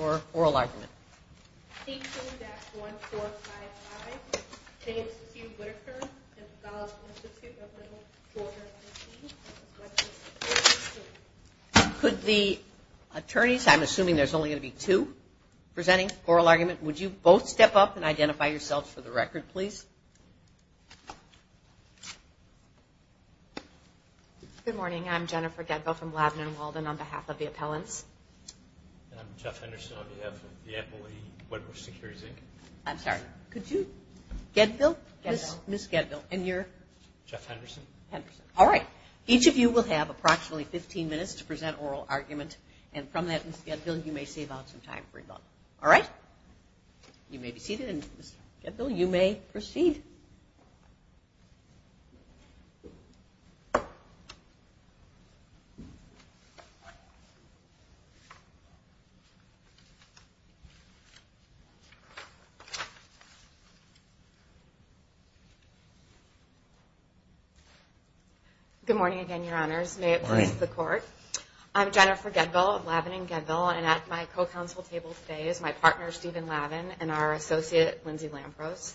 Or oral argument. Could the attorneys, I'm assuming there's only going to be two presenting oral argument, would you both step up and identify yourselves for the record, please? Good morning. I'm Jennifer Getville from Laban and Walden on behalf of the appellants. And I'm Jeff Henderson on behalf of the employee, Wedbush Securities, Inc. I'm sorry, could you, Getville, Ms. Getville, and you're? Jeff Henderson. Henderson. All right. Each of you will have approximately 15 minutes to present oral argument, and from that, Ms. Getville, you may save out some time for rebuttal. All right? You may be seated, and Ms. Getville, you may proceed. Good morning again, Your Honors. May it please the Court. I'm Jennifer Getville of Laban and Getville, and at my co-counsel table today is my partner, Stephen Laban, and our associate, Lindsay Lampros.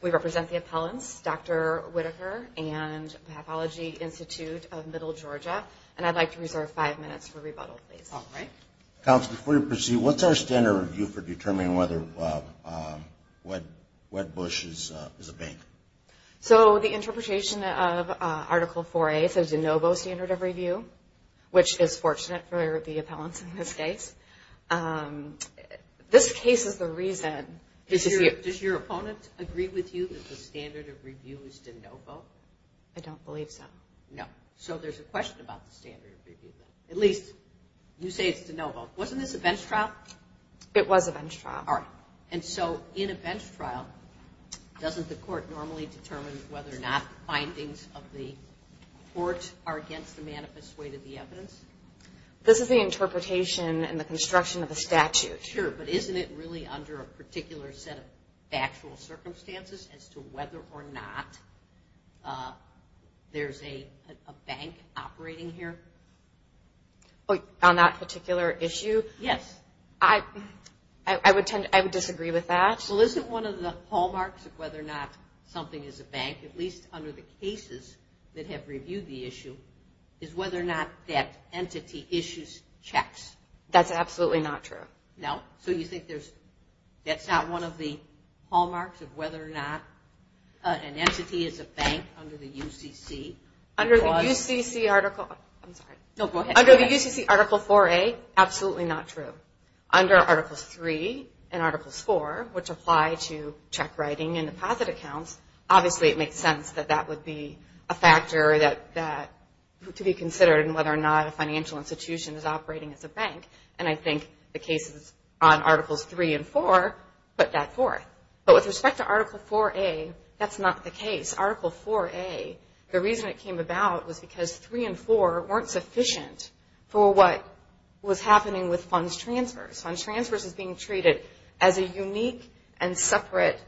We represent the appellants, Dr. Whitaker and Pathology Institute of Middle Georgia, and I'd like to reserve five minutes for rebuttal, please. All right. Counsel, before you proceed, what's our standard review for determining whether Wedbush is a bank? So the interpretation of Article 4A, so de novo standard of review, which is fortunate for the appellants in this case, this case is the reason. Does your opponent agree with you that the standard of review is de novo? I don't believe so. No. So there's a question about the standard of review. At least you say it's de novo. Wasn't this a bench trial? It was a bench trial. All right. And so in a bench trial, doesn't the Court normally determine whether or not findings of the court are against the manifest weight of the evidence? This is the interpretation and the construction of a statute. Sure. But isn't it really under a particular set of factual circumstances as to whether or not there's a bank operating here? On that particular issue? Yes. I would disagree with that. Well, isn't one of the hallmarks of whether or not something is a bank, at least under the cases that have reviewed the issue, is whether or not that entity issues checks? That's absolutely not true. No? So you think that's not one of the hallmarks of whether or not an entity is a bank under the UCC? Under the UCC Article 4A, absolutely not true. Under Articles 3 and Articles 4, which apply to check writing and deposit accounts, obviously it makes sense that that would be a factor to be considered in whether or not a financial institution is operating as a bank. And I think the cases on Articles 3 and 4 put that forth. But with respect to Article 4A, that's not the case. Article 4A, the reason it came about was because 3 and 4 weren't sufficient for what was happening with funds transfers. Funds transfers was being treated as a unique and separate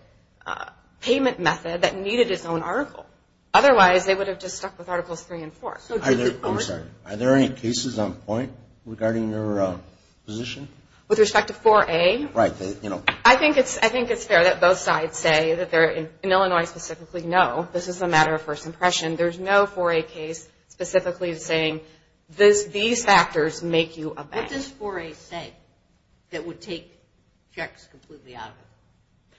payment method that needed its own article. Otherwise, they would have just stuck with Articles 3 and 4. I'm sorry. Are there any cases on point regarding your position? With respect to 4A? Right. I think it's fair that both sides say that they're, in Illinois specifically, no, this is a matter of first impression. There's no 4A case specifically saying these factors make you a bank. What does 4A say that would take checks completely out of it?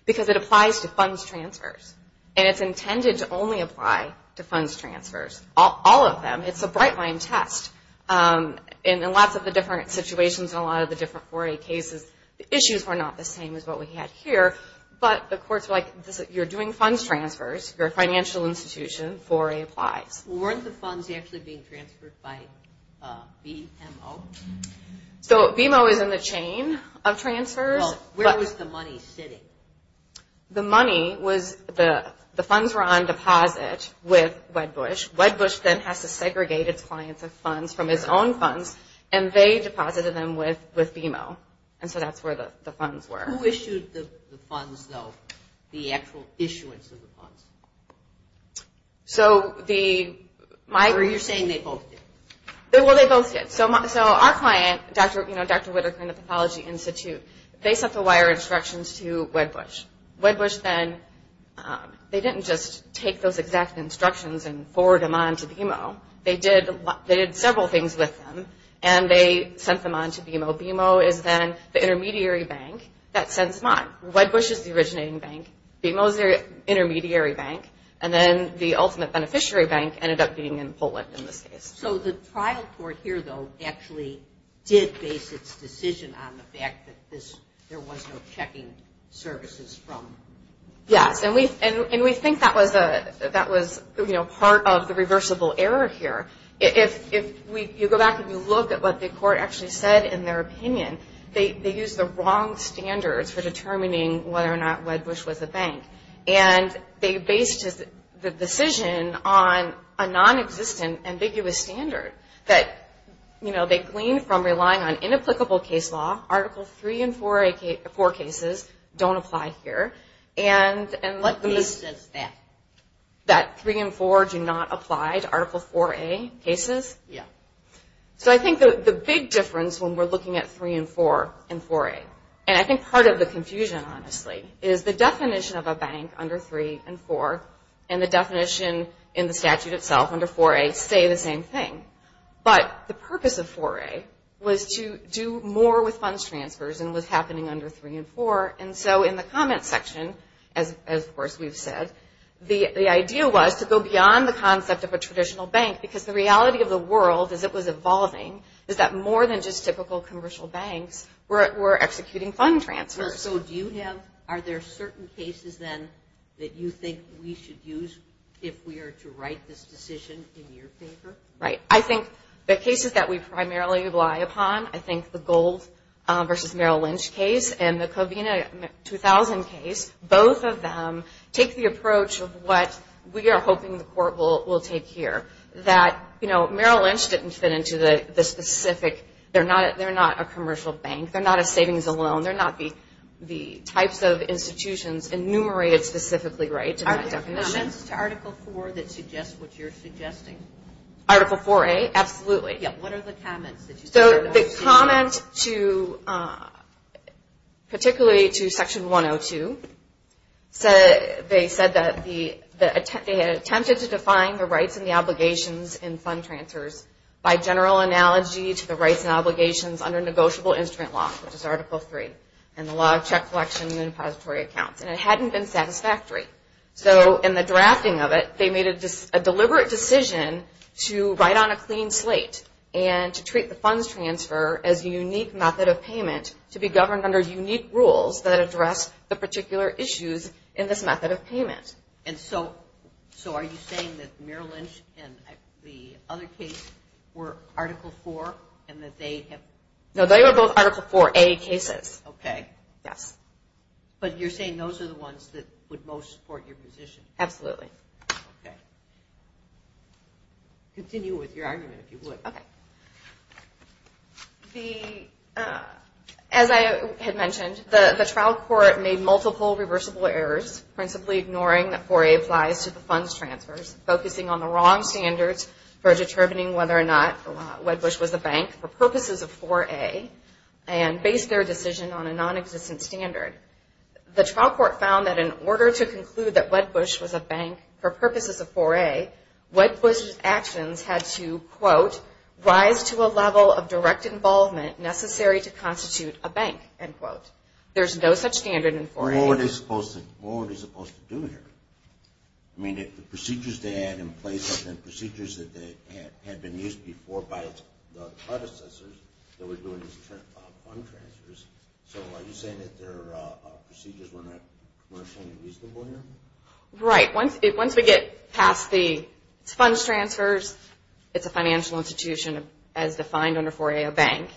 Because it applies to funds transfers. And it's intended to only apply to funds transfers, all of them. It's a bright-line test. And in lots of the different situations and a lot of the different 4A cases, the issues were not the same as what we had here. But the courts were like, you're doing funds transfers, you're a financial institution, 4A applies. Weren't the funds actually being transferred by BMO? So BMO is in the chain of transfers. Where was the money sitting? The money was, the funds were on deposit with Wedbush. Wedbush then has to segregate its clients of funds from his own funds, and they deposited them with BMO. And so that's where the funds were. Who issued the funds, though, the actual issuance of the funds? So the- Or you're saying they both did. Well, they both did. So our client, Dr. Whittaker and the Pathology Institute, they sent the wire instructions to Wedbush. Wedbush then, they didn't just take those exact instructions and forward them on to BMO. They did several things with them, and they sent them on to BMO. BMO is then the intermediary bank that sends money. Wedbush is the originating bank. BMO is the intermediary bank. And then the ultimate beneficiary bank ended up being in Poland in this case. So the trial court here, though, actually did base its decision on the fact that there was no checking services from- Yes, and we think that was part of the reversible error here. If you go back and you look at what the court actually said in their opinion, they used the wrong standards for determining whether or not Wedbush was a bank. And they based the decision on a nonexistent, ambiguous standard that, you know, they gleaned from relying on inapplicable case law. Article 3 and 4A cases don't apply here. And- What basis is that? That 3 and 4 do not apply to Article 4A cases? Yeah. So I think the big difference when we're looking at 3 and 4 in 4A, and I think part of the confusion, honestly, is the definition of a bank under 3 and 4 and the definition in the statute itself under 4A say the same thing. But the purpose of 4A was to do more with funds transfers and was happening under 3 and 4. And so in the comment section, as of course we've said, the idea was to go beyond the concept of a traditional bank because the reality of the world, as it was evolving, is that more than just typical commercial banks were executing fund transfers. So do you have-are there certain cases, then, that you think we should use if we are to write this decision in your favor? Right. I think the cases that we primarily rely upon, I think the Gold v. Merrill Lynch case and the Covina 2000 case, both of them take the approach of what we are hoping the court will take here, that, you know, Merrill Lynch didn't fit into the specific-they're not a commercial bank. They're not a savings and loan. They're not the types of institutions enumerated specifically right in that definition. Are there comments to Article 4 that suggest what you're suggesting? Article 4A? Yeah. What are the comments that you- So the comment to-particularly to Section 102, they said that they had attempted to define the rights and the obligations in fund transfers by general analogy to the rights and obligations under negotiable instrument law, which is Article 3 and the law of check collection and depository accounts, and it hadn't been satisfactory. So in the drafting of it, they made a deliberate decision to write on a clean slate and to treat the funds transfer as a unique method of payment to be governed under unique rules that address the particular issues in this method of payment. And so are you saying that Merrill Lynch and the other case were Article 4 and that they have- No, they were both Article 4A cases. Okay. Yes. But you're saying those are the ones that would most support your position? Absolutely. Okay. Continue with your argument, if you would. Okay. The-as I had mentioned, the trial court made multiple reversible errors, principally ignoring that 4A applies to the funds transfers, focusing on the wrong standards for determining whether or not Wedbush was a bank for purposes of 4A and based their decision on a nonexistent standard. The trial court found that in order to conclude that Wedbush was a bank for purposes of 4A, Wedbush's actions had to, quote, rise to a level of direct involvement necessary to constitute a bank, end quote. There's no such standard in 4A. What were they supposed to do here? I mean, the procedures they had in place had been procedures that had been used before by the predecessors that were doing these fund transfers. So are you saying that their procedures were not commercially reasonable here? Right. Once we get past the funds transfers, it's a financial institution as defined under 4A, a bank,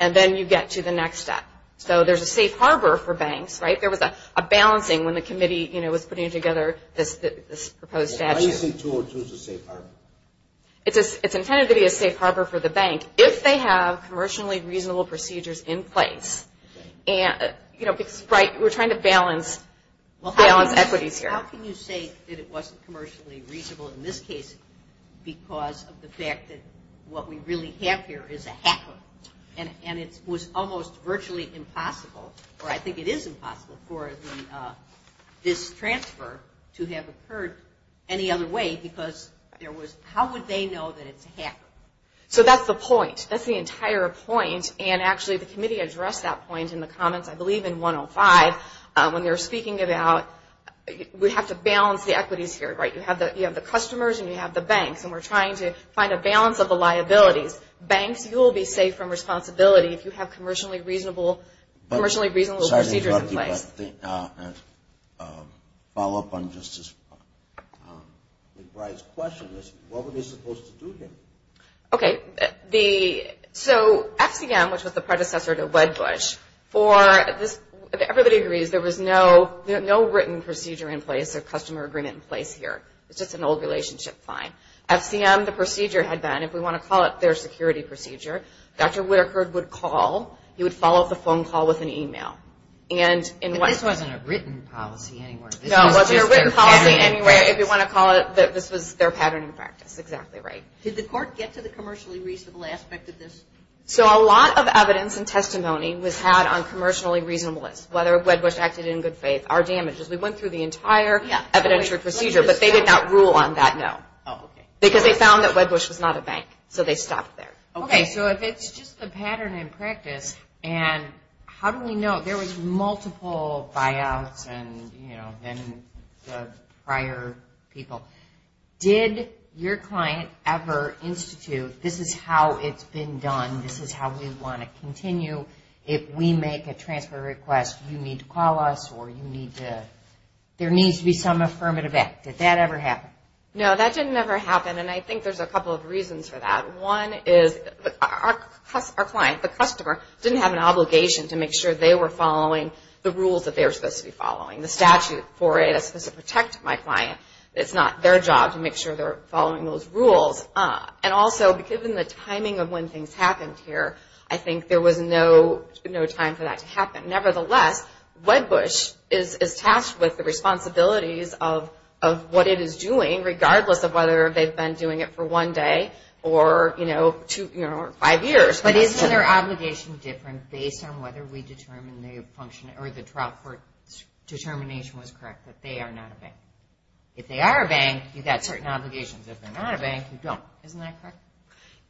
and then you get to the next step. So there's a safe harbor for banks, right? There was a balancing when the committee, you know, was putting together this proposed statute. Why do you say 202 is a safe harbor? It's intended to be a safe harbor for the bank. If they have commercially reasonable procedures in place, you know, because, right, we're trying to balance equities here. How can you say that it wasn't commercially reasonable in this case because of the fact that what we really have here is a hacker, and it was almost virtually impossible, or I think it is impossible for this transfer to have occurred any other way because there was, how would they know that it's a hacker? So that's the point. That's the entire point, and actually the committee addressed that point in the comments, I believe, in 105 when they were speaking about we have to balance the equities here, right? You have the customers and you have the banks, and we're trying to find a balance of the liabilities. Banks, you will be safe from responsibility if you have commercially reasonable procedures in place. Sorry to interrupt you, but to follow up on Justice McBride's question, what were they supposed to do here? Okay. So FCM, which was the predecessor to Wedbush, for this, everybody agrees, there was no written procedure in place or customer agreement in place here. It's just an old relationship. Fine. FCM, the procedure had been, if we want to call it their security procedure, Dr. Whitaker would call. He would follow up the phone call with an email. But this wasn't a written policy anyway. No, it wasn't a written policy anyway. If you want to call it, this was their pattern in practice. Exactly right. Did the court get to the commercially reasonable aspect of this? So a lot of evidence and testimony was had on commercially reasonable lists, whether Wedbush acted in good faith, our damages. We went through the entire evidentiary procedure, but they did not rule on that, no. Oh, okay. Because they found that Wedbush was not a bank, so they stopped there. Okay, so if it's just the pattern in practice, and how do we know? There was multiple buyouts and, you know, then the prior people. Did your client ever institute, this is how it's been done, this is how we want to continue. If we make a transfer request, you need to call us or you need to, there needs to be some affirmative act. Did that ever happen? No, that didn't ever happen, and I think there's a couple of reasons for that. One is our client, the customer, didn't have an obligation to make sure they were following the rules that they were supposed to be following. The statute for it is supposed to protect my client. It's not their job to make sure they're following those rules. And also, given the timing of when things happened here, I think there was no time for that to happen. Nevertheless, Wedbush is tasked with the responsibilities of what it is doing, regardless of whether they've been doing it for one day or, you know, five years. But isn't their obligation different based on whether we determine the function or determination was correct that they are not a bank? If they are a bank, you've got certain obligations. If they're not a bank, you don't. Isn't that correct?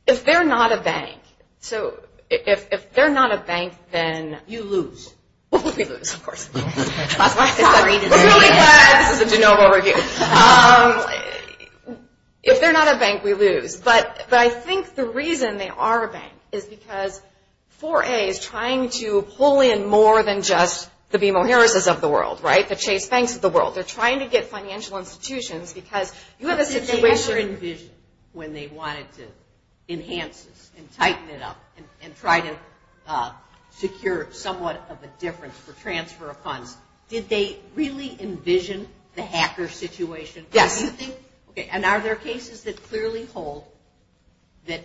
If they're not a bank, so if they're not a bank, then... You lose. We lose, of course. We're really glad this is a de novo review. If they're not a bank, we lose. But I think the reason they are a bank is because 4A is trying to pull in more than just the BMO-Harrises of the world, right, the Chase Banks of the world. They're trying to get financial institutions because you have a situation... But did they ever envision when they wanted to enhance this and tighten it up and try to secure somewhat of a difference for transfer of funds, did they really envision the hacker situation? Yes. Okay, and are there cases that clearly hold that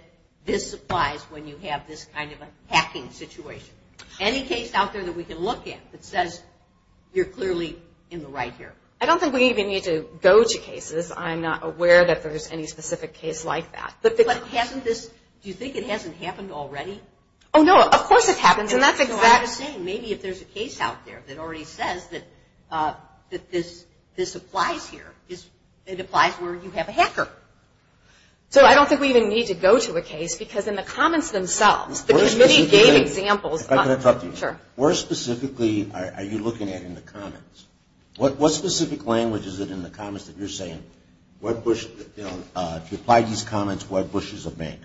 this applies when you have this kind of a hacking situation? Any case out there that we can look at that says you're clearly in the right here? I don't think we even need to go to cases. I'm not aware that there's any specific case like that. But hasn't this, do you think it hasn't happened already? Oh, no. Of course it happens. And that's exactly... Maybe if there's a case out there that already says that this applies here, it applies where you have a hacker. So I don't think we even need to go to a case because in the comments themselves, the committee gave examples. If I could interrupt you. Sure. Where specifically are you looking at in the comments? What specific language is it in the comments that you're saying, if you apply these comments, why Bush is a bank?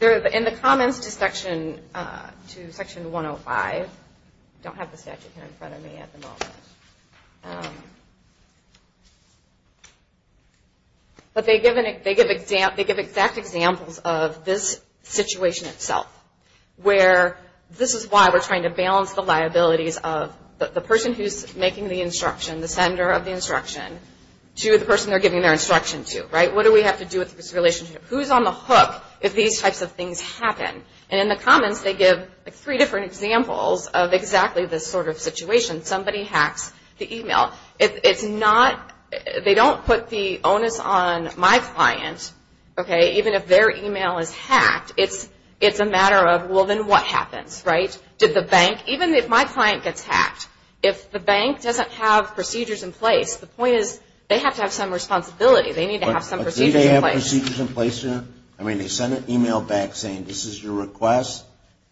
In the comments to Section 105, I don't have the statute here in front of me at the moment. But they give exact examples of this situation itself, where this is why we're trying to balance the liabilities of the person who's making the instruction, the sender of the instruction, to the person they're giving their instruction to, right? What do we have to do with this relationship? Who's on the hook if these types of things happen? And in the comments, they give three different examples of exactly this sort of situation. Somebody hacks the e-mail. It's not... They don't put the onus on my client, okay? Even if their e-mail is hacked, it's a matter of, well, then what happens, right? Did the bank... Even if my client gets hacked, if the bank doesn't have procedures in place, the point is they have to have some responsibility. They need to have some procedures in place. Do they have procedures in place? I mean, they send an e-mail back saying, this is your request,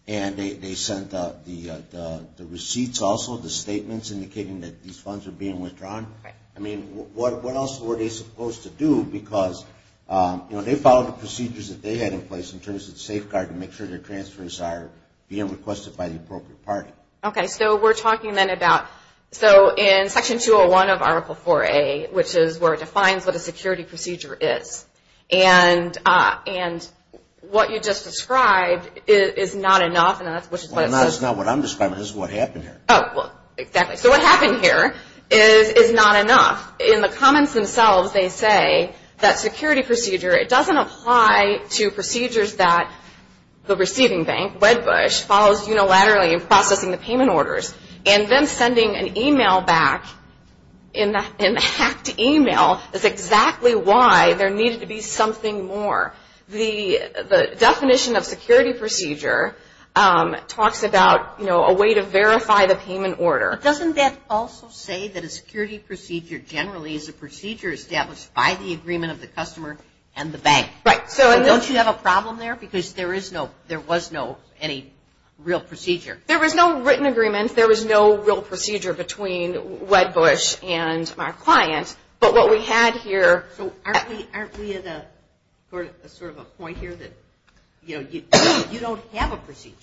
and they sent the receipts also, the statements indicating that these funds are being withdrawn. I mean, what else were they supposed to do? Because they followed the procedures that they had in place in terms of safeguarding, make sure their transfers are being requested by the appropriate party. Okay, so we're talking then about... So in Section 201 of Article 4A, which is where it defines what a security procedure is, and what you just described is not enough. Well, it's not what I'm describing. This is what happened here. Oh, well, exactly. So what happened here is not enough. In the comments themselves, they say that security procedure, it doesn't apply to procedures that the receiving bank, Wedbush, follows unilaterally in processing the payment orders. And then sending an e-mail back in the hacked e-mail is exactly why there needed to be something more. The definition of security procedure talks about, you know, a way to verify the payment order. Doesn't that also say that a security procedure generally is a procedure established by the agreement of the customer and the bank? Right. So don't you have a problem there? Because there is no, there was no, any real procedure. There was no written agreement. There was no real procedure between Wedbush and our client. But what we had here... So aren't we at a sort of a point here that, you know, you don't have a procedure.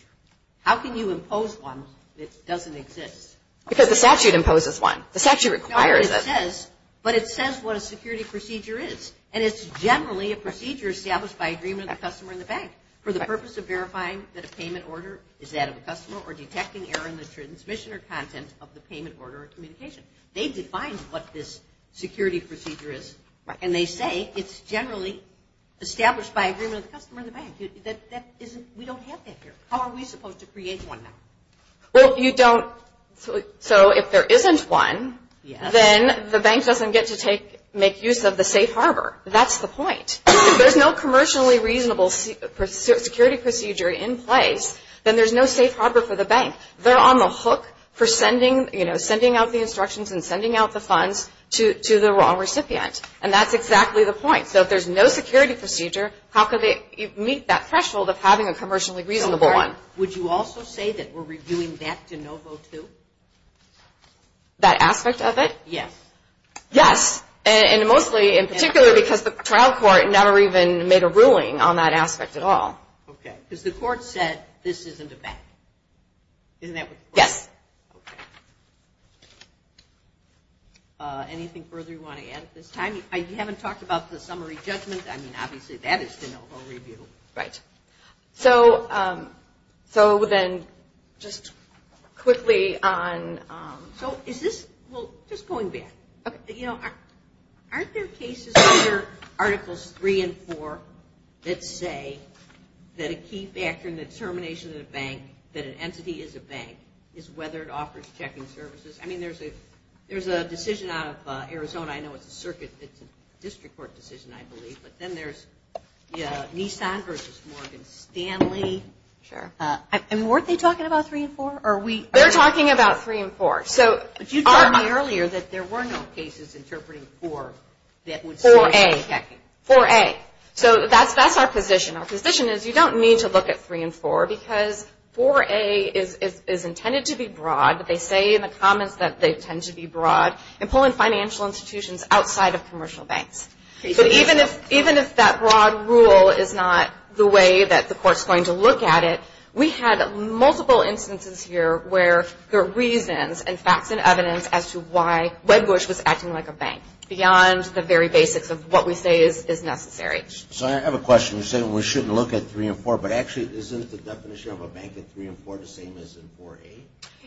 How can you impose one that doesn't exist? Because the statute imposes one. The statute requires it. No, but it says what a security procedure is. And it's generally a procedure established by agreement of the customer and the bank for the purpose of verifying that a payment order is that of a customer or detecting error in the transmission or content of the payment order or communication. They define what this security procedure is. And they say it's generally established by agreement of the customer and the bank. That isn't, we don't have that here. How are we supposed to create one now? Well, you don't, so if there isn't one, then the bank doesn't get to take, make use of the safe harbor. That's the point. If there's no commercially reasonable security procedure in place, then there's no safe harbor for the bank. They're on the hook for sending, you know, sending out the instructions and sending out the funds to the wrong recipient. And that's exactly the point. So if there's no security procedure, how can they meet that threshold of having a commercially reasonable one? Would you also say that we're reviewing that de novo too? That aspect of it? Yes. Yes. And mostly, in particular, because the trial court never even made a ruling on that aspect at all. Okay. Because the court said this isn't a bank. Isn't that what the court said? Yes. Okay. Anything further you want to add at this time? You haven't talked about the summary judgment. I mean, obviously, that is de novo review. Right. So then just quickly on... So is this, well, just going back. You know, aren't there cases under Articles 3 and 4 that say that a key factor in the determination of a bank, that an entity is a bank, is whether it offers checking services? I mean, there's a decision out of Arizona. I know it's a circuit. It's a district court decision, I believe. But then there's Nissan v. Morgan, Stanley. Sure. And weren't they talking about 3 and 4? They're talking about 3 and 4. But you told me earlier that there were no cases interpreting 4 that would source the checking. 4A. 4A. So that's our position. Our position is you don't need to look at 3 and 4 because 4A is intended to be broad. They say in the comments that they tend to be broad in pulling financial institutions outside of commercial banks. So even if that broad rule is not the way that the court's going to look at it, we had multiple instances here where there are reasons and facts and evidence as to why Wedbush was acting like a bank beyond the very basics of what we say is necessary. So I have a question. You said we shouldn't look at 3 and 4, but actually isn't the definition of a bank in 3 and 4 the same as in 4A?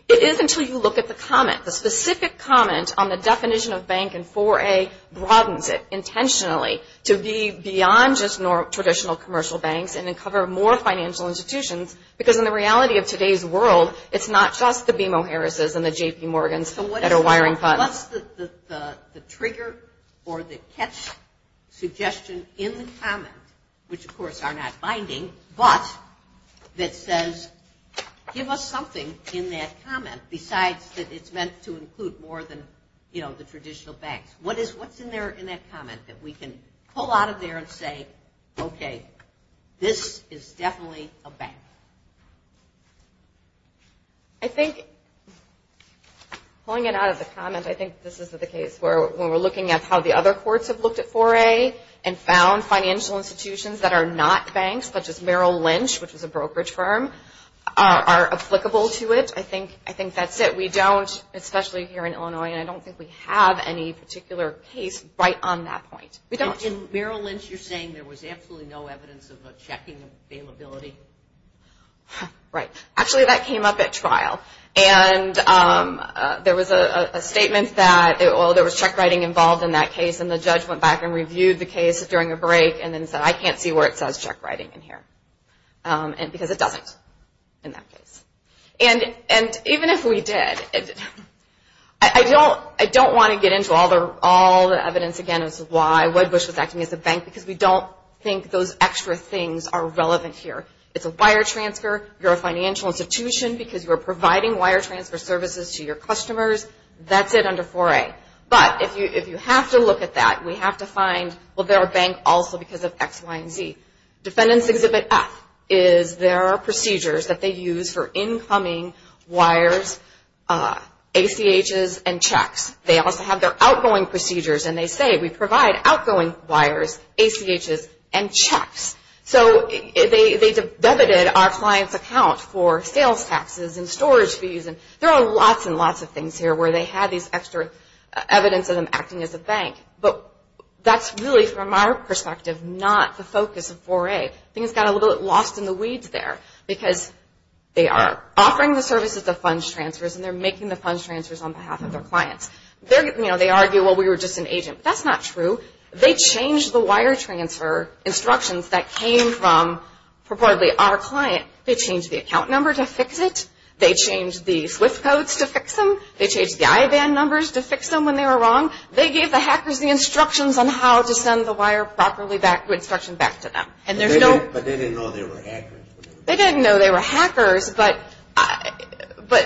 It is until you look at the comment. The specific comment on the definition of bank in 4A broadens it intentionally to be beyond just traditional commercial banks and uncover more financial institutions because in the reality of today's world, it's not just the BMO Harris's and the JP Morgan's that are wiring funds. What's the trigger or the catch suggestion in the comment, which, of course, are not binding, but that says give us something in that comment besides that it's meant to include more than, you know, the traditional banks? What's in that comment that we can pull out of there and say, okay, this is definitely a bank? I think pulling it out of the comment, I think this is the case where we're looking at how the other courts have looked at 4A and found financial institutions that are not banks, such as Merrill Lynch, which is a brokerage firm, are applicable to it. I think that's it. We don't, especially here in Illinois, and I don't think we have any particular case right on that point. We don't. In Merrill Lynch, you're saying there was absolutely no evidence of a checking availability? Right. Actually, that came up at trial. And there was a statement that, well, there was check writing involved in that case, and the judge went back and reviewed the case during a break and then said, I can't see where it says check writing in here because it doesn't in that case. And even if we did, I don't want to get into all the evidence, again, as to why Wedbush was acting as a bank because we don't think those extra things are relevant here. It's a wire transfer. You're a financial institution because you're providing wire transfer services to your customers. That's it under 4A. But if you have to look at that, we have to find, well, they're a bank also because of X, Y, and Z. Defendants Exhibit F is there are procedures that they use for incoming wires, ACHs, and checks. They also have their outgoing procedures, and they say we provide outgoing wires, ACHs, and checks. So they debited our client's account for sales taxes and storage fees, and there are lots and lots of things here where they had these extra evidence of them acting as a bank. But that's really, from our perspective, not the focus of 4A. Things got a little lost in the weeds there because they are offering the services of funds transfers, and they're making the funds transfers on behalf of their clients. They argue, well, we were just an agent. That's not true. They changed the wire transfer instructions that came from, purportedly, our client. They changed the account number to fix it. They changed the SWIFT codes to fix them. They changed the Ioban numbers to fix them when they were wrong. They gave the hackers the instructions on how to send the wire instruction back to them. But they didn't know they were hackers. They didn't know they were hackers, but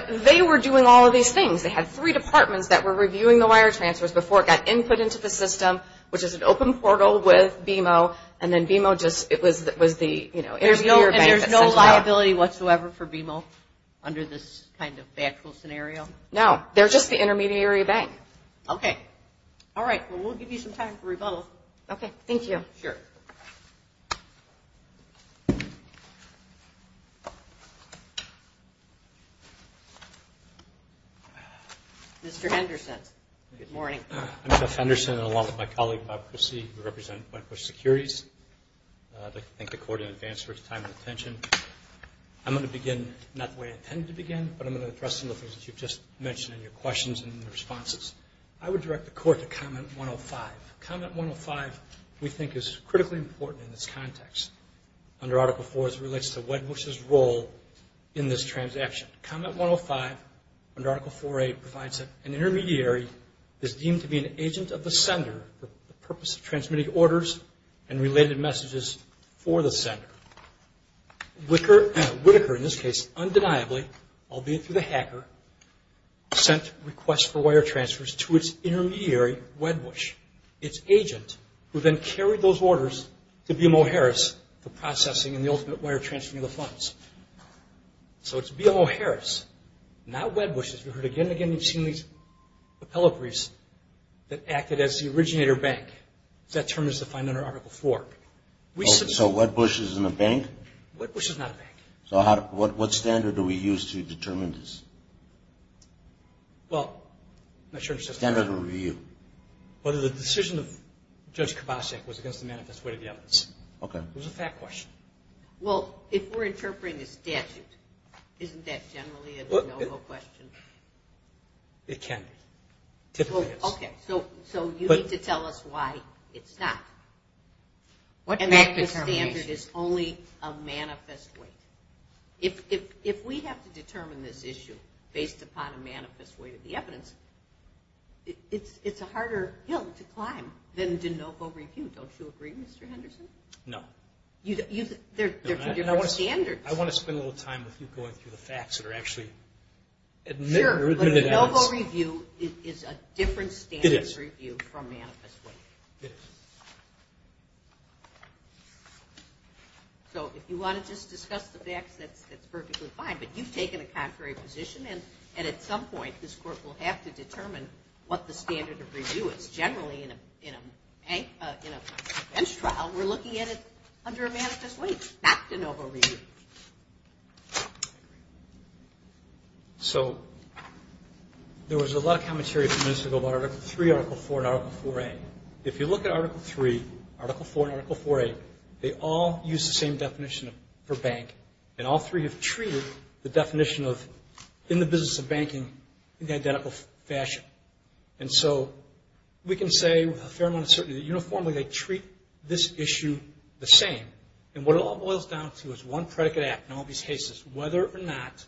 they were doing all of these things. They had three departments that were reviewing the wire transfers before it got input into the system, which is an open portal with BMO, and then BMO just was the intermediary bank that sent it out. And there's no liability whatsoever for BMO under this kind of factual scenario? No, they're just the intermediary bank. Okay. All right. Well, we'll give you some time for rebuttal. Okay. Thank you. Sure. Mr. Henderson. Good morning. I'm Jeff Henderson, along with my colleague, Bob Christie, who represent Wentworth Securities. I'd like to thank the Court in advance for its time and attention. I'm going to begin not the way I intended to begin, but I'm going to address some of the things that you've just mentioned in your questions and responses. I would direct the Court to Comment 105. Comment 105 we think is critically important in this context under Article IV as it relates to Wentworth's role in this transaction. Comment 105 under Article IV-A provides that an intermediary is deemed to be an agent of the sender for the purpose of transmitting orders and related messages for the sender. Whitaker, in this case, undeniably, albeit through the hacker, sent requests for wire transfers to its intermediary, Wedbush, its agent who then carried those orders to BMO Harris for processing and the ultimate wire transfer of the funds. So it's BMO Harris, not Wedbush, as we've heard again and again. We've seen these appellatories that acted as the originator bank. That term is defined under Article IV. So Wedbush isn't a bank? Wedbush is not a bank. So what standard do we use to determine this? Well, I'm not sure. Standard of review. Whether the decision of Judge Kubasek was against the manifest way of the evidence. Okay. It was a fact question. Well, if we're interpreting a statute, isn't that generally a no-go question? It can be. Typically it's. Okay. So you need to tell us why it's not. And that standard is only a manifest way. If we have to determine this issue based upon a manifest way of the evidence, it's a harder hill to climb than de novo review. Don't you agree, Mr. Henderson? No. They're two different standards. I want to spend a little time with you going through the facts that are actually admitted evidence. De novo review is a different standard of review from manifest way. It is. It is. So if you want to just discuss the facts, that's perfectly fine. But you've taken a contrary position, and at some point this Court will have to determine what the standard of review is. Generally in a bench trial, we're looking at it under a manifest way, not de novo review. So there was a lot of commentary from minutes ago about Article 3, Article 4, and Article 4A. If you look at Article 3, Article 4, and Article 4A, they all use the same definition for bank, and all three have treated the definition of in the business of banking in the identical fashion. And so we can say with a fair amount of certainty that uniformly they treat this issue the same. And what it all boils down to is one predicate act in all these cases, whether or not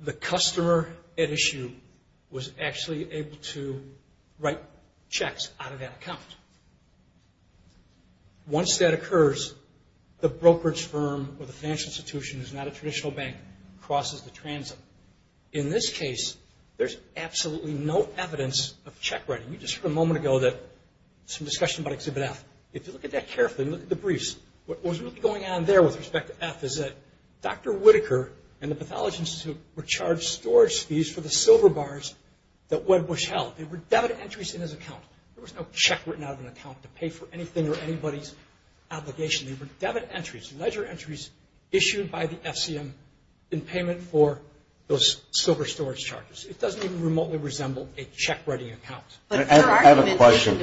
the customer at issue was actually able to write checks out of that account. Once that occurs, the brokerage firm or the financial institution, who's not a traditional bank, crosses the transit. In this case, there's absolutely no evidence of check writing. You just heard a moment ago some discussion about Exhibit F. If you look at that carefully and look at the briefs, what was really going on there with respect to F is that Dr. Whitaker and the Pathology Institute were charged storage fees for the silver bars that WebBush held. They were debit entries in his account. There was no check written out of an account to pay for anything or anybody's obligation. They were debit entries, ledger entries, issued by the FCM in payment for those silver storage charges. It doesn't even remotely resemble a check writing account. I have a question.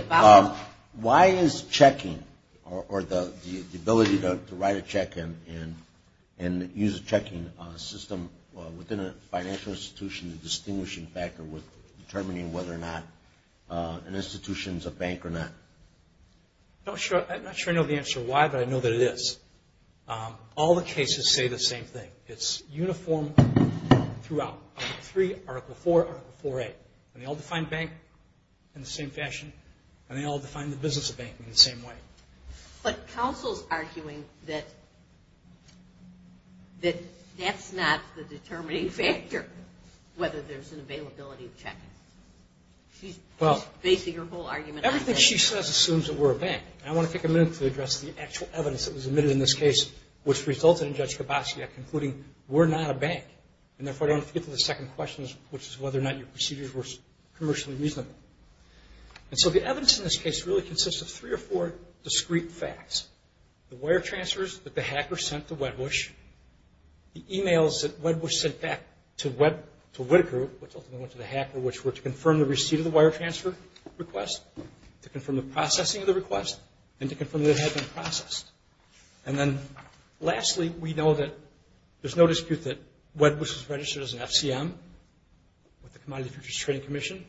Why is checking or the ability to write a check and use a checking system within a financial institution a distinguishing factor with determining whether or not an institution is a bank or not? I'm not sure I know the answer to why, but I know that it is. All the cases say the same thing. It's uniform throughout. Article 3, Article 4, Article 4A. And they all define bank in the same fashion and they all define the business of bank in the same way. But counsel's arguing that that's not the determining factor, whether there's an availability of checking. She's basing her whole argument on that. Everything she says assumes that we're a bank. And I want to take a minute to address the actual evidence that was admitted in this case, which resulted in Judge Kabatsky concluding we're not a bank. And therefore, I don't have to get to the second question, which is whether or not your procedures were commercially reasonable. And so the evidence in this case really consists of three or four discreet facts. The wire transfers that the hacker sent to Wedbush, the emails that Wedbush sent back to Whitaker, which ultimately went to the hacker, which were to confirm the receipt of the wire transfer request, to confirm the processing of the request, and to confirm that it had been processed. And then lastly, we know that there's no dispute that Wedbush was registered as an FCM with the Commodity Futures Trading Commission,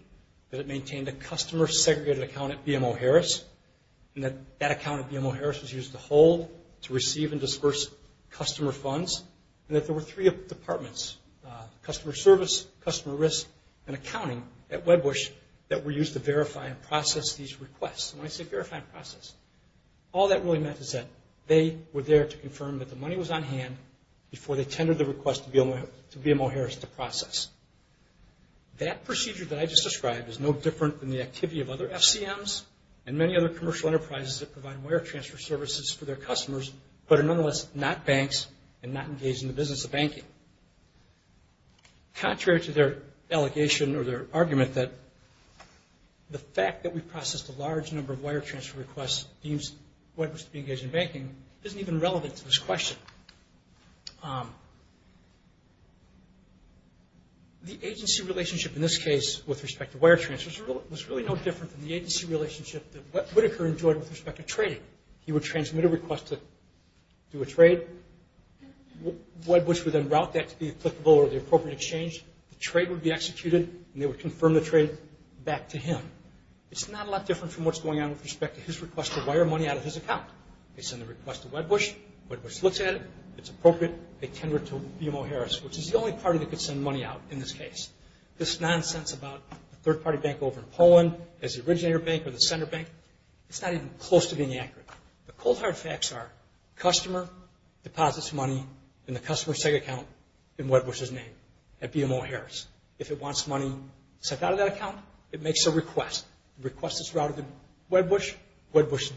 that it maintained a customer segregated account at BMO Harris, and that that account at BMO Harris was used to hold, to receive, and disperse customer funds, and that there were three departments, customer service, customer risk, and accounting at Wedbush that were used to verify and process these requests. When I say verify and process, all that really meant is that they were there to confirm that the money was on hand before they tendered the request to BMO Harris to process. That procedure that I just described is no different than the activity of other FCMs and many other commercial enterprises that provide wire transfer services for their customers, but are nonetheless not banks and not engaged in the business of banking. Contrary to their allegation or their argument, the fact that we processed a large number of wire transfer requests deems Wedbush to be engaged in banking isn't even relevant to this question. The agency relationship in this case with respect to wire transfers was really no different than the agency relationship that Whitaker enjoyed with respect to trading. He would transmit a request to do a trade. Wedbush would then route that to be applicable or the appropriate exchange. The trade would be executed and they would confirm the trade back to him. It's not a lot different from what's going on with respect to his request to wire money out of his account. They send the request to Wedbush. Wedbush looks at it. It's appropriate. They tender it to BMO Harris, which is the only party that could send money out in this case. This nonsense about a third-party bank over in Poland as the originator bank or the center bank, it's not even close to being accurate. The cold hard facts are the customer deposits money in the customer sec account in Wedbush's name at BMO Harris. If it wants money sent out of that account, it makes a request. It requests it's routed to Wedbush. Wedbush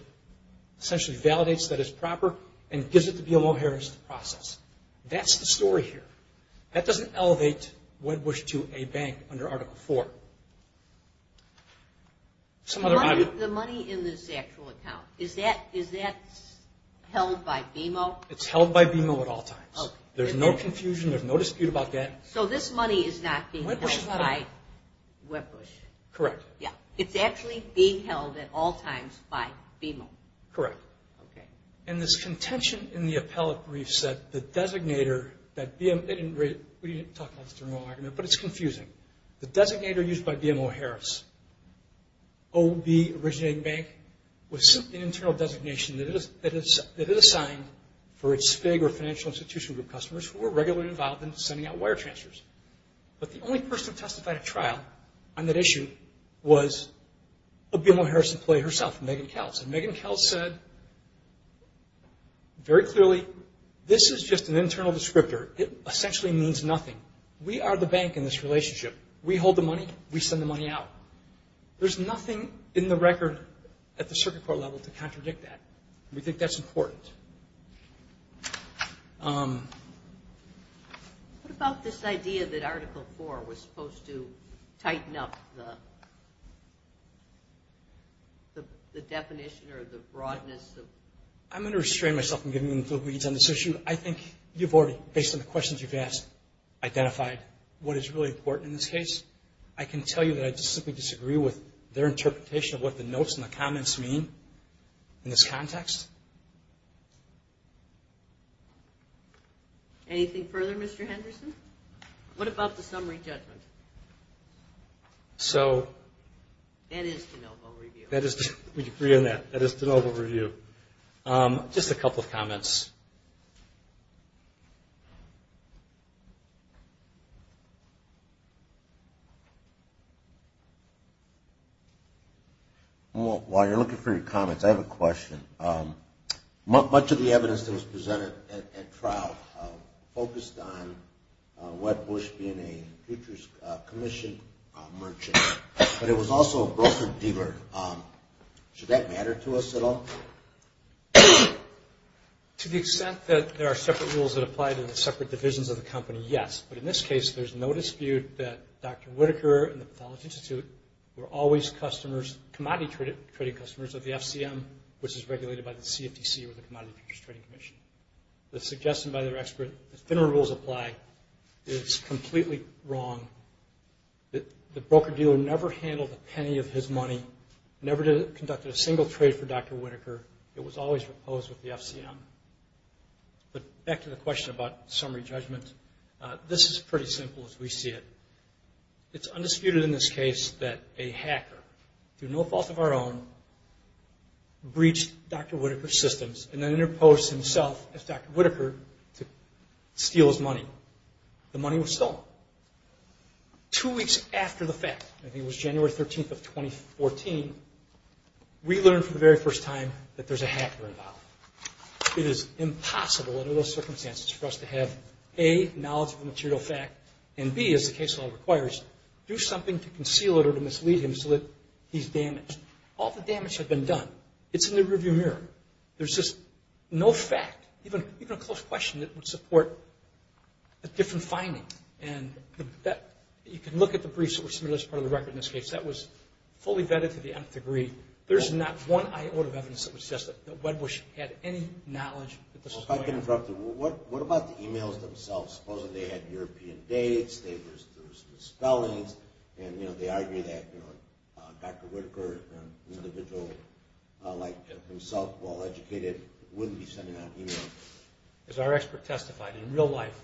essentially validates that it's proper and gives it to BMO Harris to process. That's the story here. That doesn't elevate Wedbush to a bank under Article IV. The money in this actual account, is that held by BMO? It's held by BMO at all times. There's no confusion. There's no dispute about that. So this money is not being held by Wedbush? Correct. It's actually being held at all times by BMO? Correct. Okay. And this contention in the appellate briefs that the designator that BMO, we didn't talk much during the argument, but it's confusing. The designator used by BMO Harris, OB, originating bank, was an internal designation that it assigned for its SPIG or financial institution group customers who were regularly involved in sending out wire transfers. But the only person who testified at trial on that issue was a BMO Harris employee herself, Megan Keltz. And Megan Keltz said very clearly, this is just an internal descriptor. It essentially means nothing. We are the bank in this relationship. We hold the money. We send the money out. There's nothing in the record at the circuit court level to contradict that. We think that's important. What about this idea that Article 4 was supposed to tighten up the definition or the broadness of... I'm going to restrain myself from giving you the full leads on this issue. I think you've already, based on the questions you've asked, identified what is really important in this case. I can tell you that I just simply disagree with their interpretation of what the notes and the comments mean in this context. Anything further, Mr. Henderson? What about the summary judgment? That is de novo review. We agree on that. That is de novo review. Just a couple of comments. While you're looking for your comments, I have a question. Much of the evidence that was presented at trial focused on Webb Bush being a futures commission merchant, but it was also a broker-dealer. Should that matter to us at all? To the extent that there are separate rules that apply to the separate divisions of the company, yes. Dr. Whitaker and the Pathology Institute were always commodity trading customers of the FCM, which is regulated by the CFTC, or the Commodity Futures Trading Commission. The suggestion by their expert that similar rules apply is completely wrong. The broker-dealer never handled a penny of his money, never conducted a single trade for Dr. Whitaker. It was always proposed with the FCM. But back to the question about summary judgment, this is pretty simple as we see it. It's undisputed in this case that a hacker, through no fault of our own, breached Dr. Whitaker's systems and then interposed himself as Dr. Whitaker to steal his money. The money was stolen. Two weeks after the fact, I think it was January 13th of 2014, we learned for the very first time that there's a hacker involved. It is impossible under those circumstances for us to have A, knowledge of the material fact, and B, as the case law requires, do something to conceal it or to mislead him so that he's damaged. All the damage had been done. It's in the rearview mirror. There's just no fact, even a close question, that would support a different finding. And you can look at the briefs that were submitted as part of the record in this case. That was fully vetted to the nth degree. There's not one iota of evidence that would suggest that Wedbush had any knowledge that this was going on. If I can interrupt you, what about the e-mails themselves? Supposedly they had European dates, there were some spellings, and they argued that Dr. Whitaker, an individual like himself, well-educated, wouldn't be sending out e-mails. As our expert testified, in real life,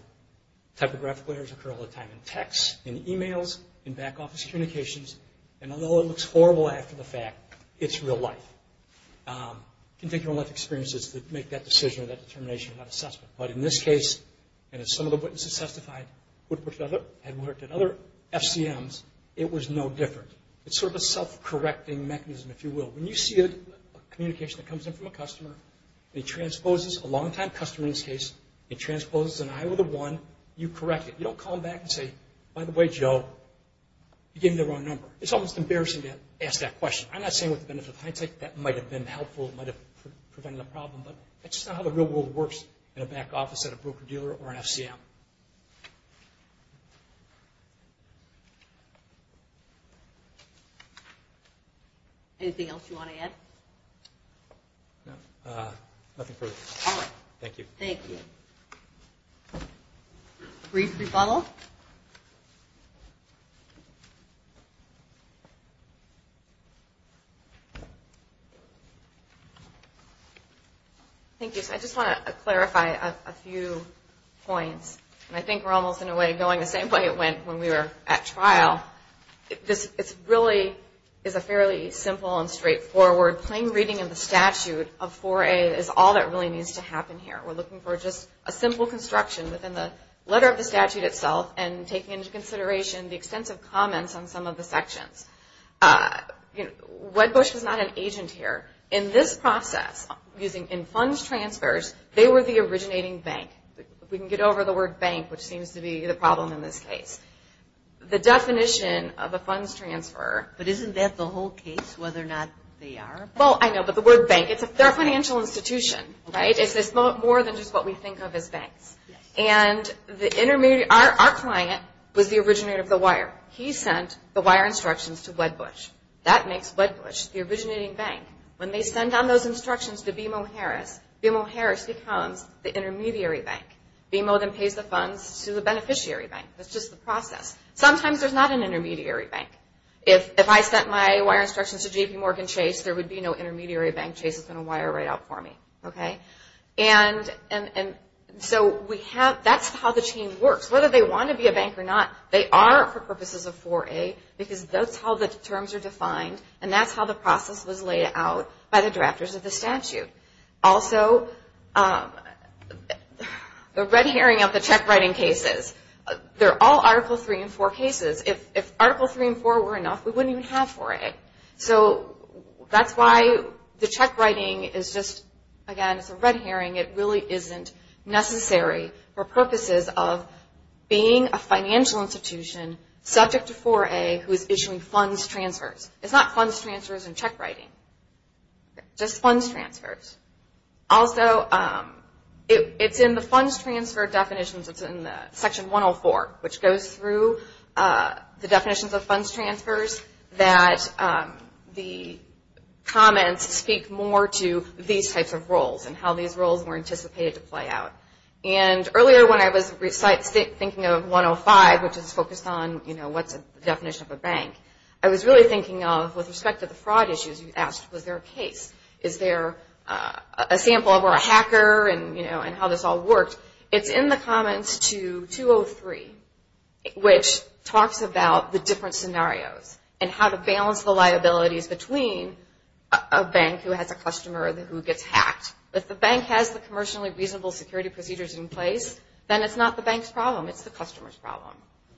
typographic errors occur all the time in text, in e-mails, in back office communications, and although it looks horrible after the fact, it's real life. You can take your own life experiences to make that decision or that determination and that assessment. But in this case, and as some of the witnesses testified, Wedbush had worked at other FCMs. It was no different. It's sort of a self-correcting mechanism, if you will. When you see a communication that comes in from a customer, and it transposes, a long-time customer in this case, it transposes an iota one, you correct it. You don't call them back and say, by the way, Joe, you gave me the wrong number. It's almost embarrassing to ask that question. I'm not saying with the benefit of hindsight that might have been helpful, might have prevented a problem, but that's just not how the real world works in a back office at a broker-dealer or an FCM. Anything else you want to add? No, nothing further. All right. Thank you. Thank you. Brief rebuttal. Thank you. I just want to clarify a few points. I think we're almost, in a way, going the same way it went when we were at trial. This really is a fairly simple and straightforward plain reading of the statute of 4A is all that really needs to happen here. We're looking for just a simple construction within the letter of the statute itself and taking into consideration the extensive comments on some of the sections. Wedbush is not an agent here. In this process, in funds transfers, they were the originating bank. We can get over the word bank, which seems to be the problem in this case. The definition of a funds transfer... But isn't that the whole case, whether or not they are? Well, I know, but the word bank, they're a financial institution, right? It's more than just what we think of as banks. And our client was the originator of the wire. He sent the wire instructions to Wedbush. That makes Wedbush the originating bank. When they send down those instructions to BMO Harris, BMO Harris becomes the intermediary bank. BMO then pays the funds to the beneficiary bank. That's just the process. Sometimes there's not an intermediary bank. If I sent my wire instructions to JPMorgan Chase, there would be no intermediary bank. Chase is going to wire right out for me. And so that's how the chain works. Whether they want to be a bank or not, they are for purposes of 4A, because that's how the terms are defined, and that's how the process was laid out by the drafters of the statute. Also, the red herring of the check writing cases, they're all Article 3 and 4 cases. If Article 3 and 4 were enough, we wouldn't even have 4A. So that's why the check writing is just, again, it's a red herring. It really isn't necessary for purposes of being a financial institution subject to 4A who is issuing funds transfers. It's not funds transfers and check writing. Just funds transfers. Also, it's in the funds transfer definitions. It's in Section 104, which goes through the definitions of funds transfers, that the comments speak more to these types of roles and how these roles were anticipated to play out. And earlier when I was thinking of 105, which is focused on, you know, what's the definition of a bank, I was really thinking of, with respect to the fraud issues, you asked, was there a case? Is there a sample or a hacker and, you know, how this all worked? It's in the comments to 203, which talks about the different scenarios and how to balance the liabilities between a bank who has a customer who gets hacked. If the bank has the commercially reasonable security procedures in place, then it's not the bank's problem. It's the customer's problem.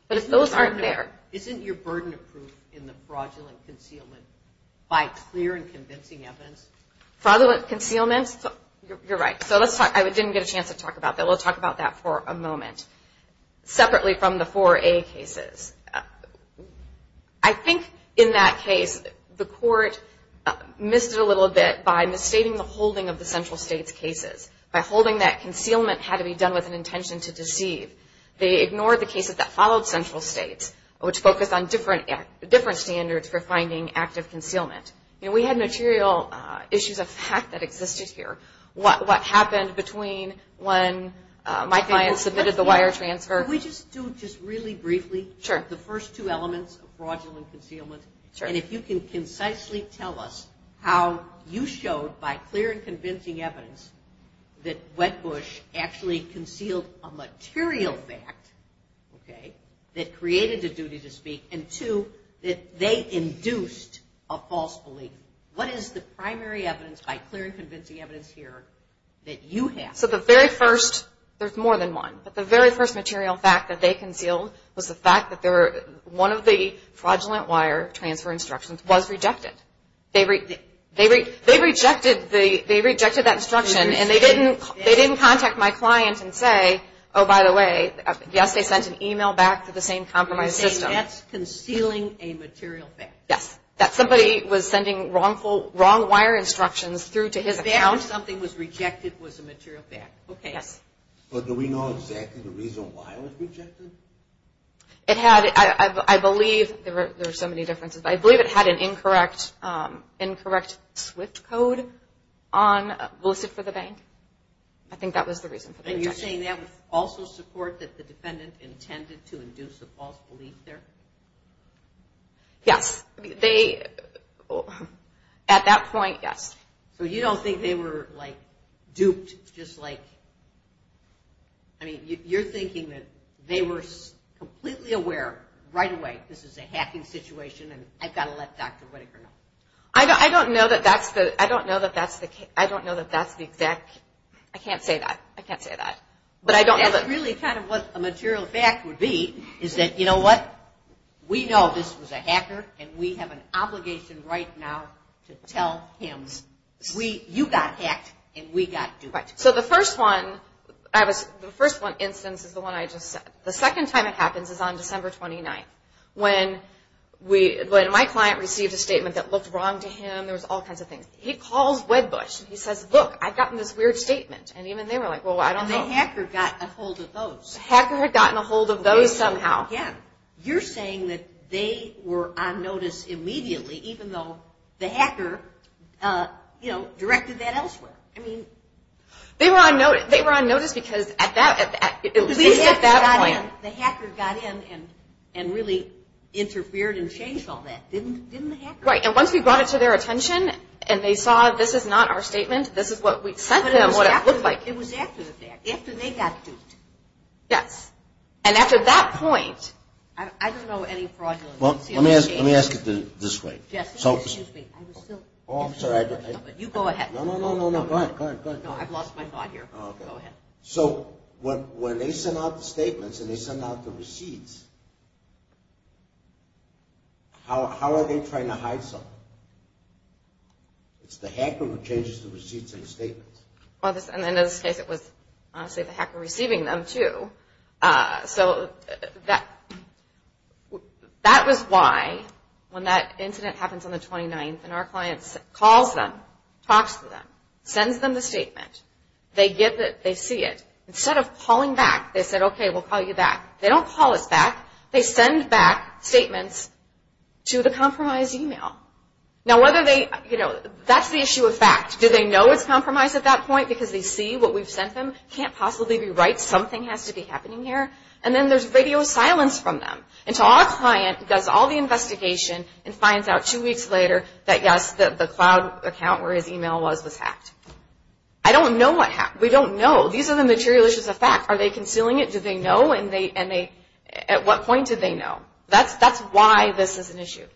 But if those aren't there. Isn't your burden of proof in the fraudulent concealment by clear and convincing evidence? Fraudulent concealment? You're right. So let's talk. I didn't get a chance to talk about that. We'll talk about that for a moment. Separately from the 4A cases, I think in that case the court missed it a little bit by misstating the holding of the central states' cases, by holding that concealment had to be done with an intention to deceive. They ignored the cases that followed central states, which focused on different standards for finding active concealment. You know, we had material issues of fact that existed here. What happened between when my client submitted the wire transfer? Can we just do just really briefly the first two elements of fraudulent concealment? And if you can concisely tell us how you showed by clear and convincing evidence that Wedbush actually concealed a material fact that created the duty to speak and, two, that they induced a false belief. What is the primary evidence by clear and convincing evidence here that you have? So the very first, there's more than one, but the very first material fact that they concealed was the fact that one of the fraudulent wire transfer instructions was rejected. They rejected that instruction, and they didn't contact my client and say, oh, by the way, yes, they sent an email back to the same compromised system. You're saying that's concealing a material fact. Yes. That somebody was sending wrong wire instructions through to his account. That something was rejected was a material fact. Okay. Yes. But do we know exactly the reason why it was rejected? It had, I believe, there are so many differences, but I believe it had an incorrect SWIFT code listed for the bank. I think that was the reason for the rejection. And you're saying that would also support that the defendant intended to induce a false belief there? Yes. They, at that point, yes. So you don't think they were, like, duped, just like, I mean, you're thinking that they were completely aware right away, this is a hacking situation, and I've got to let Dr. Whitaker know. I don't know that that's the, I don't know that that's the, I don't know that that's the exact, I can't say that. I can't say that. But I don't know that. That's really kind of what a material fact would be, is that, you know what, we know this was a hacker, and we have an obligation right now to tell him, you got hacked, and we got duped. Right. So the first one, the first instance is the one I just said. The second time it happens is on December 29th, when my client received a statement that looked wrong to him, there was all kinds of things. He calls Wedbush, and he says, look, I've gotten this weird statement. And even they were like, well, I don't know. The hacker got a hold of those. The hacker had gotten a hold of those somehow. Yeah. You're saying that they were on notice immediately, even though the hacker, you know, directed that elsewhere. I mean. They were on notice because at least at that point. The hacker got in and really interfered and changed all that, didn't the hacker? Right, and once we brought it to their attention, and they saw this is not our statement, this is what we sent them, what it looked like. It was after they got duped. Yes. And after that point. I don't know any fraudulence. Let me ask it this way. Yes. Excuse me. I'm sorry. You go ahead. No, no, no, no. Go ahead. Go ahead. No, I've lost my thought here. Go ahead. So when they send out the statements and they send out the receipts, how are they trying to hide something? It's the hacker who changes the receipts and the statements. And in this case it was, honestly, the hacker receiving them too. So that was why when that incident happens on the 29th and our client calls them, talks to them, sends them the statement, they get it, they see it. Instead of calling back, they said, okay, we'll call you back. They don't call us back. They send back statements to the compromised email. Now whether they, you know, that's the issue of fact. Do they know it's compromised at that point because they see what we've sent them? It can't possibly be right. Something has to be happening here. And then there's radio silence from them. And so our client does all the investigation and finds out two weeks later that, yes, the cloud account where his email was was hacked. I don't know what happened. We don't know. These are the material issues of fact. Are they concealing it? Do they know? And at what point did they know? That's why this is an issue. Thank you.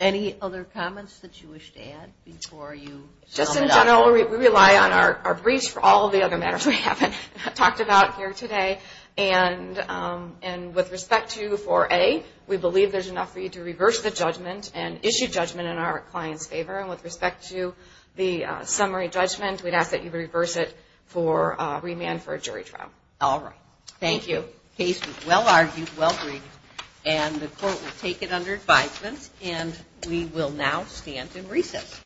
Any other comments that you wish to add before you sum it up? Just in general, we rely on our briefs for all the other matters we haven't talked about here today. And with respect to 4A, we believe there's enough for you to reverse the judgment and issue judgment in our client's favor. And with respect to the summary judgment, we'd ask that you reverse it for remand for a jury trial. All right. Thank you. The case was well-argued, well-read. And the court will take it under advisement. And we will now stand in recess.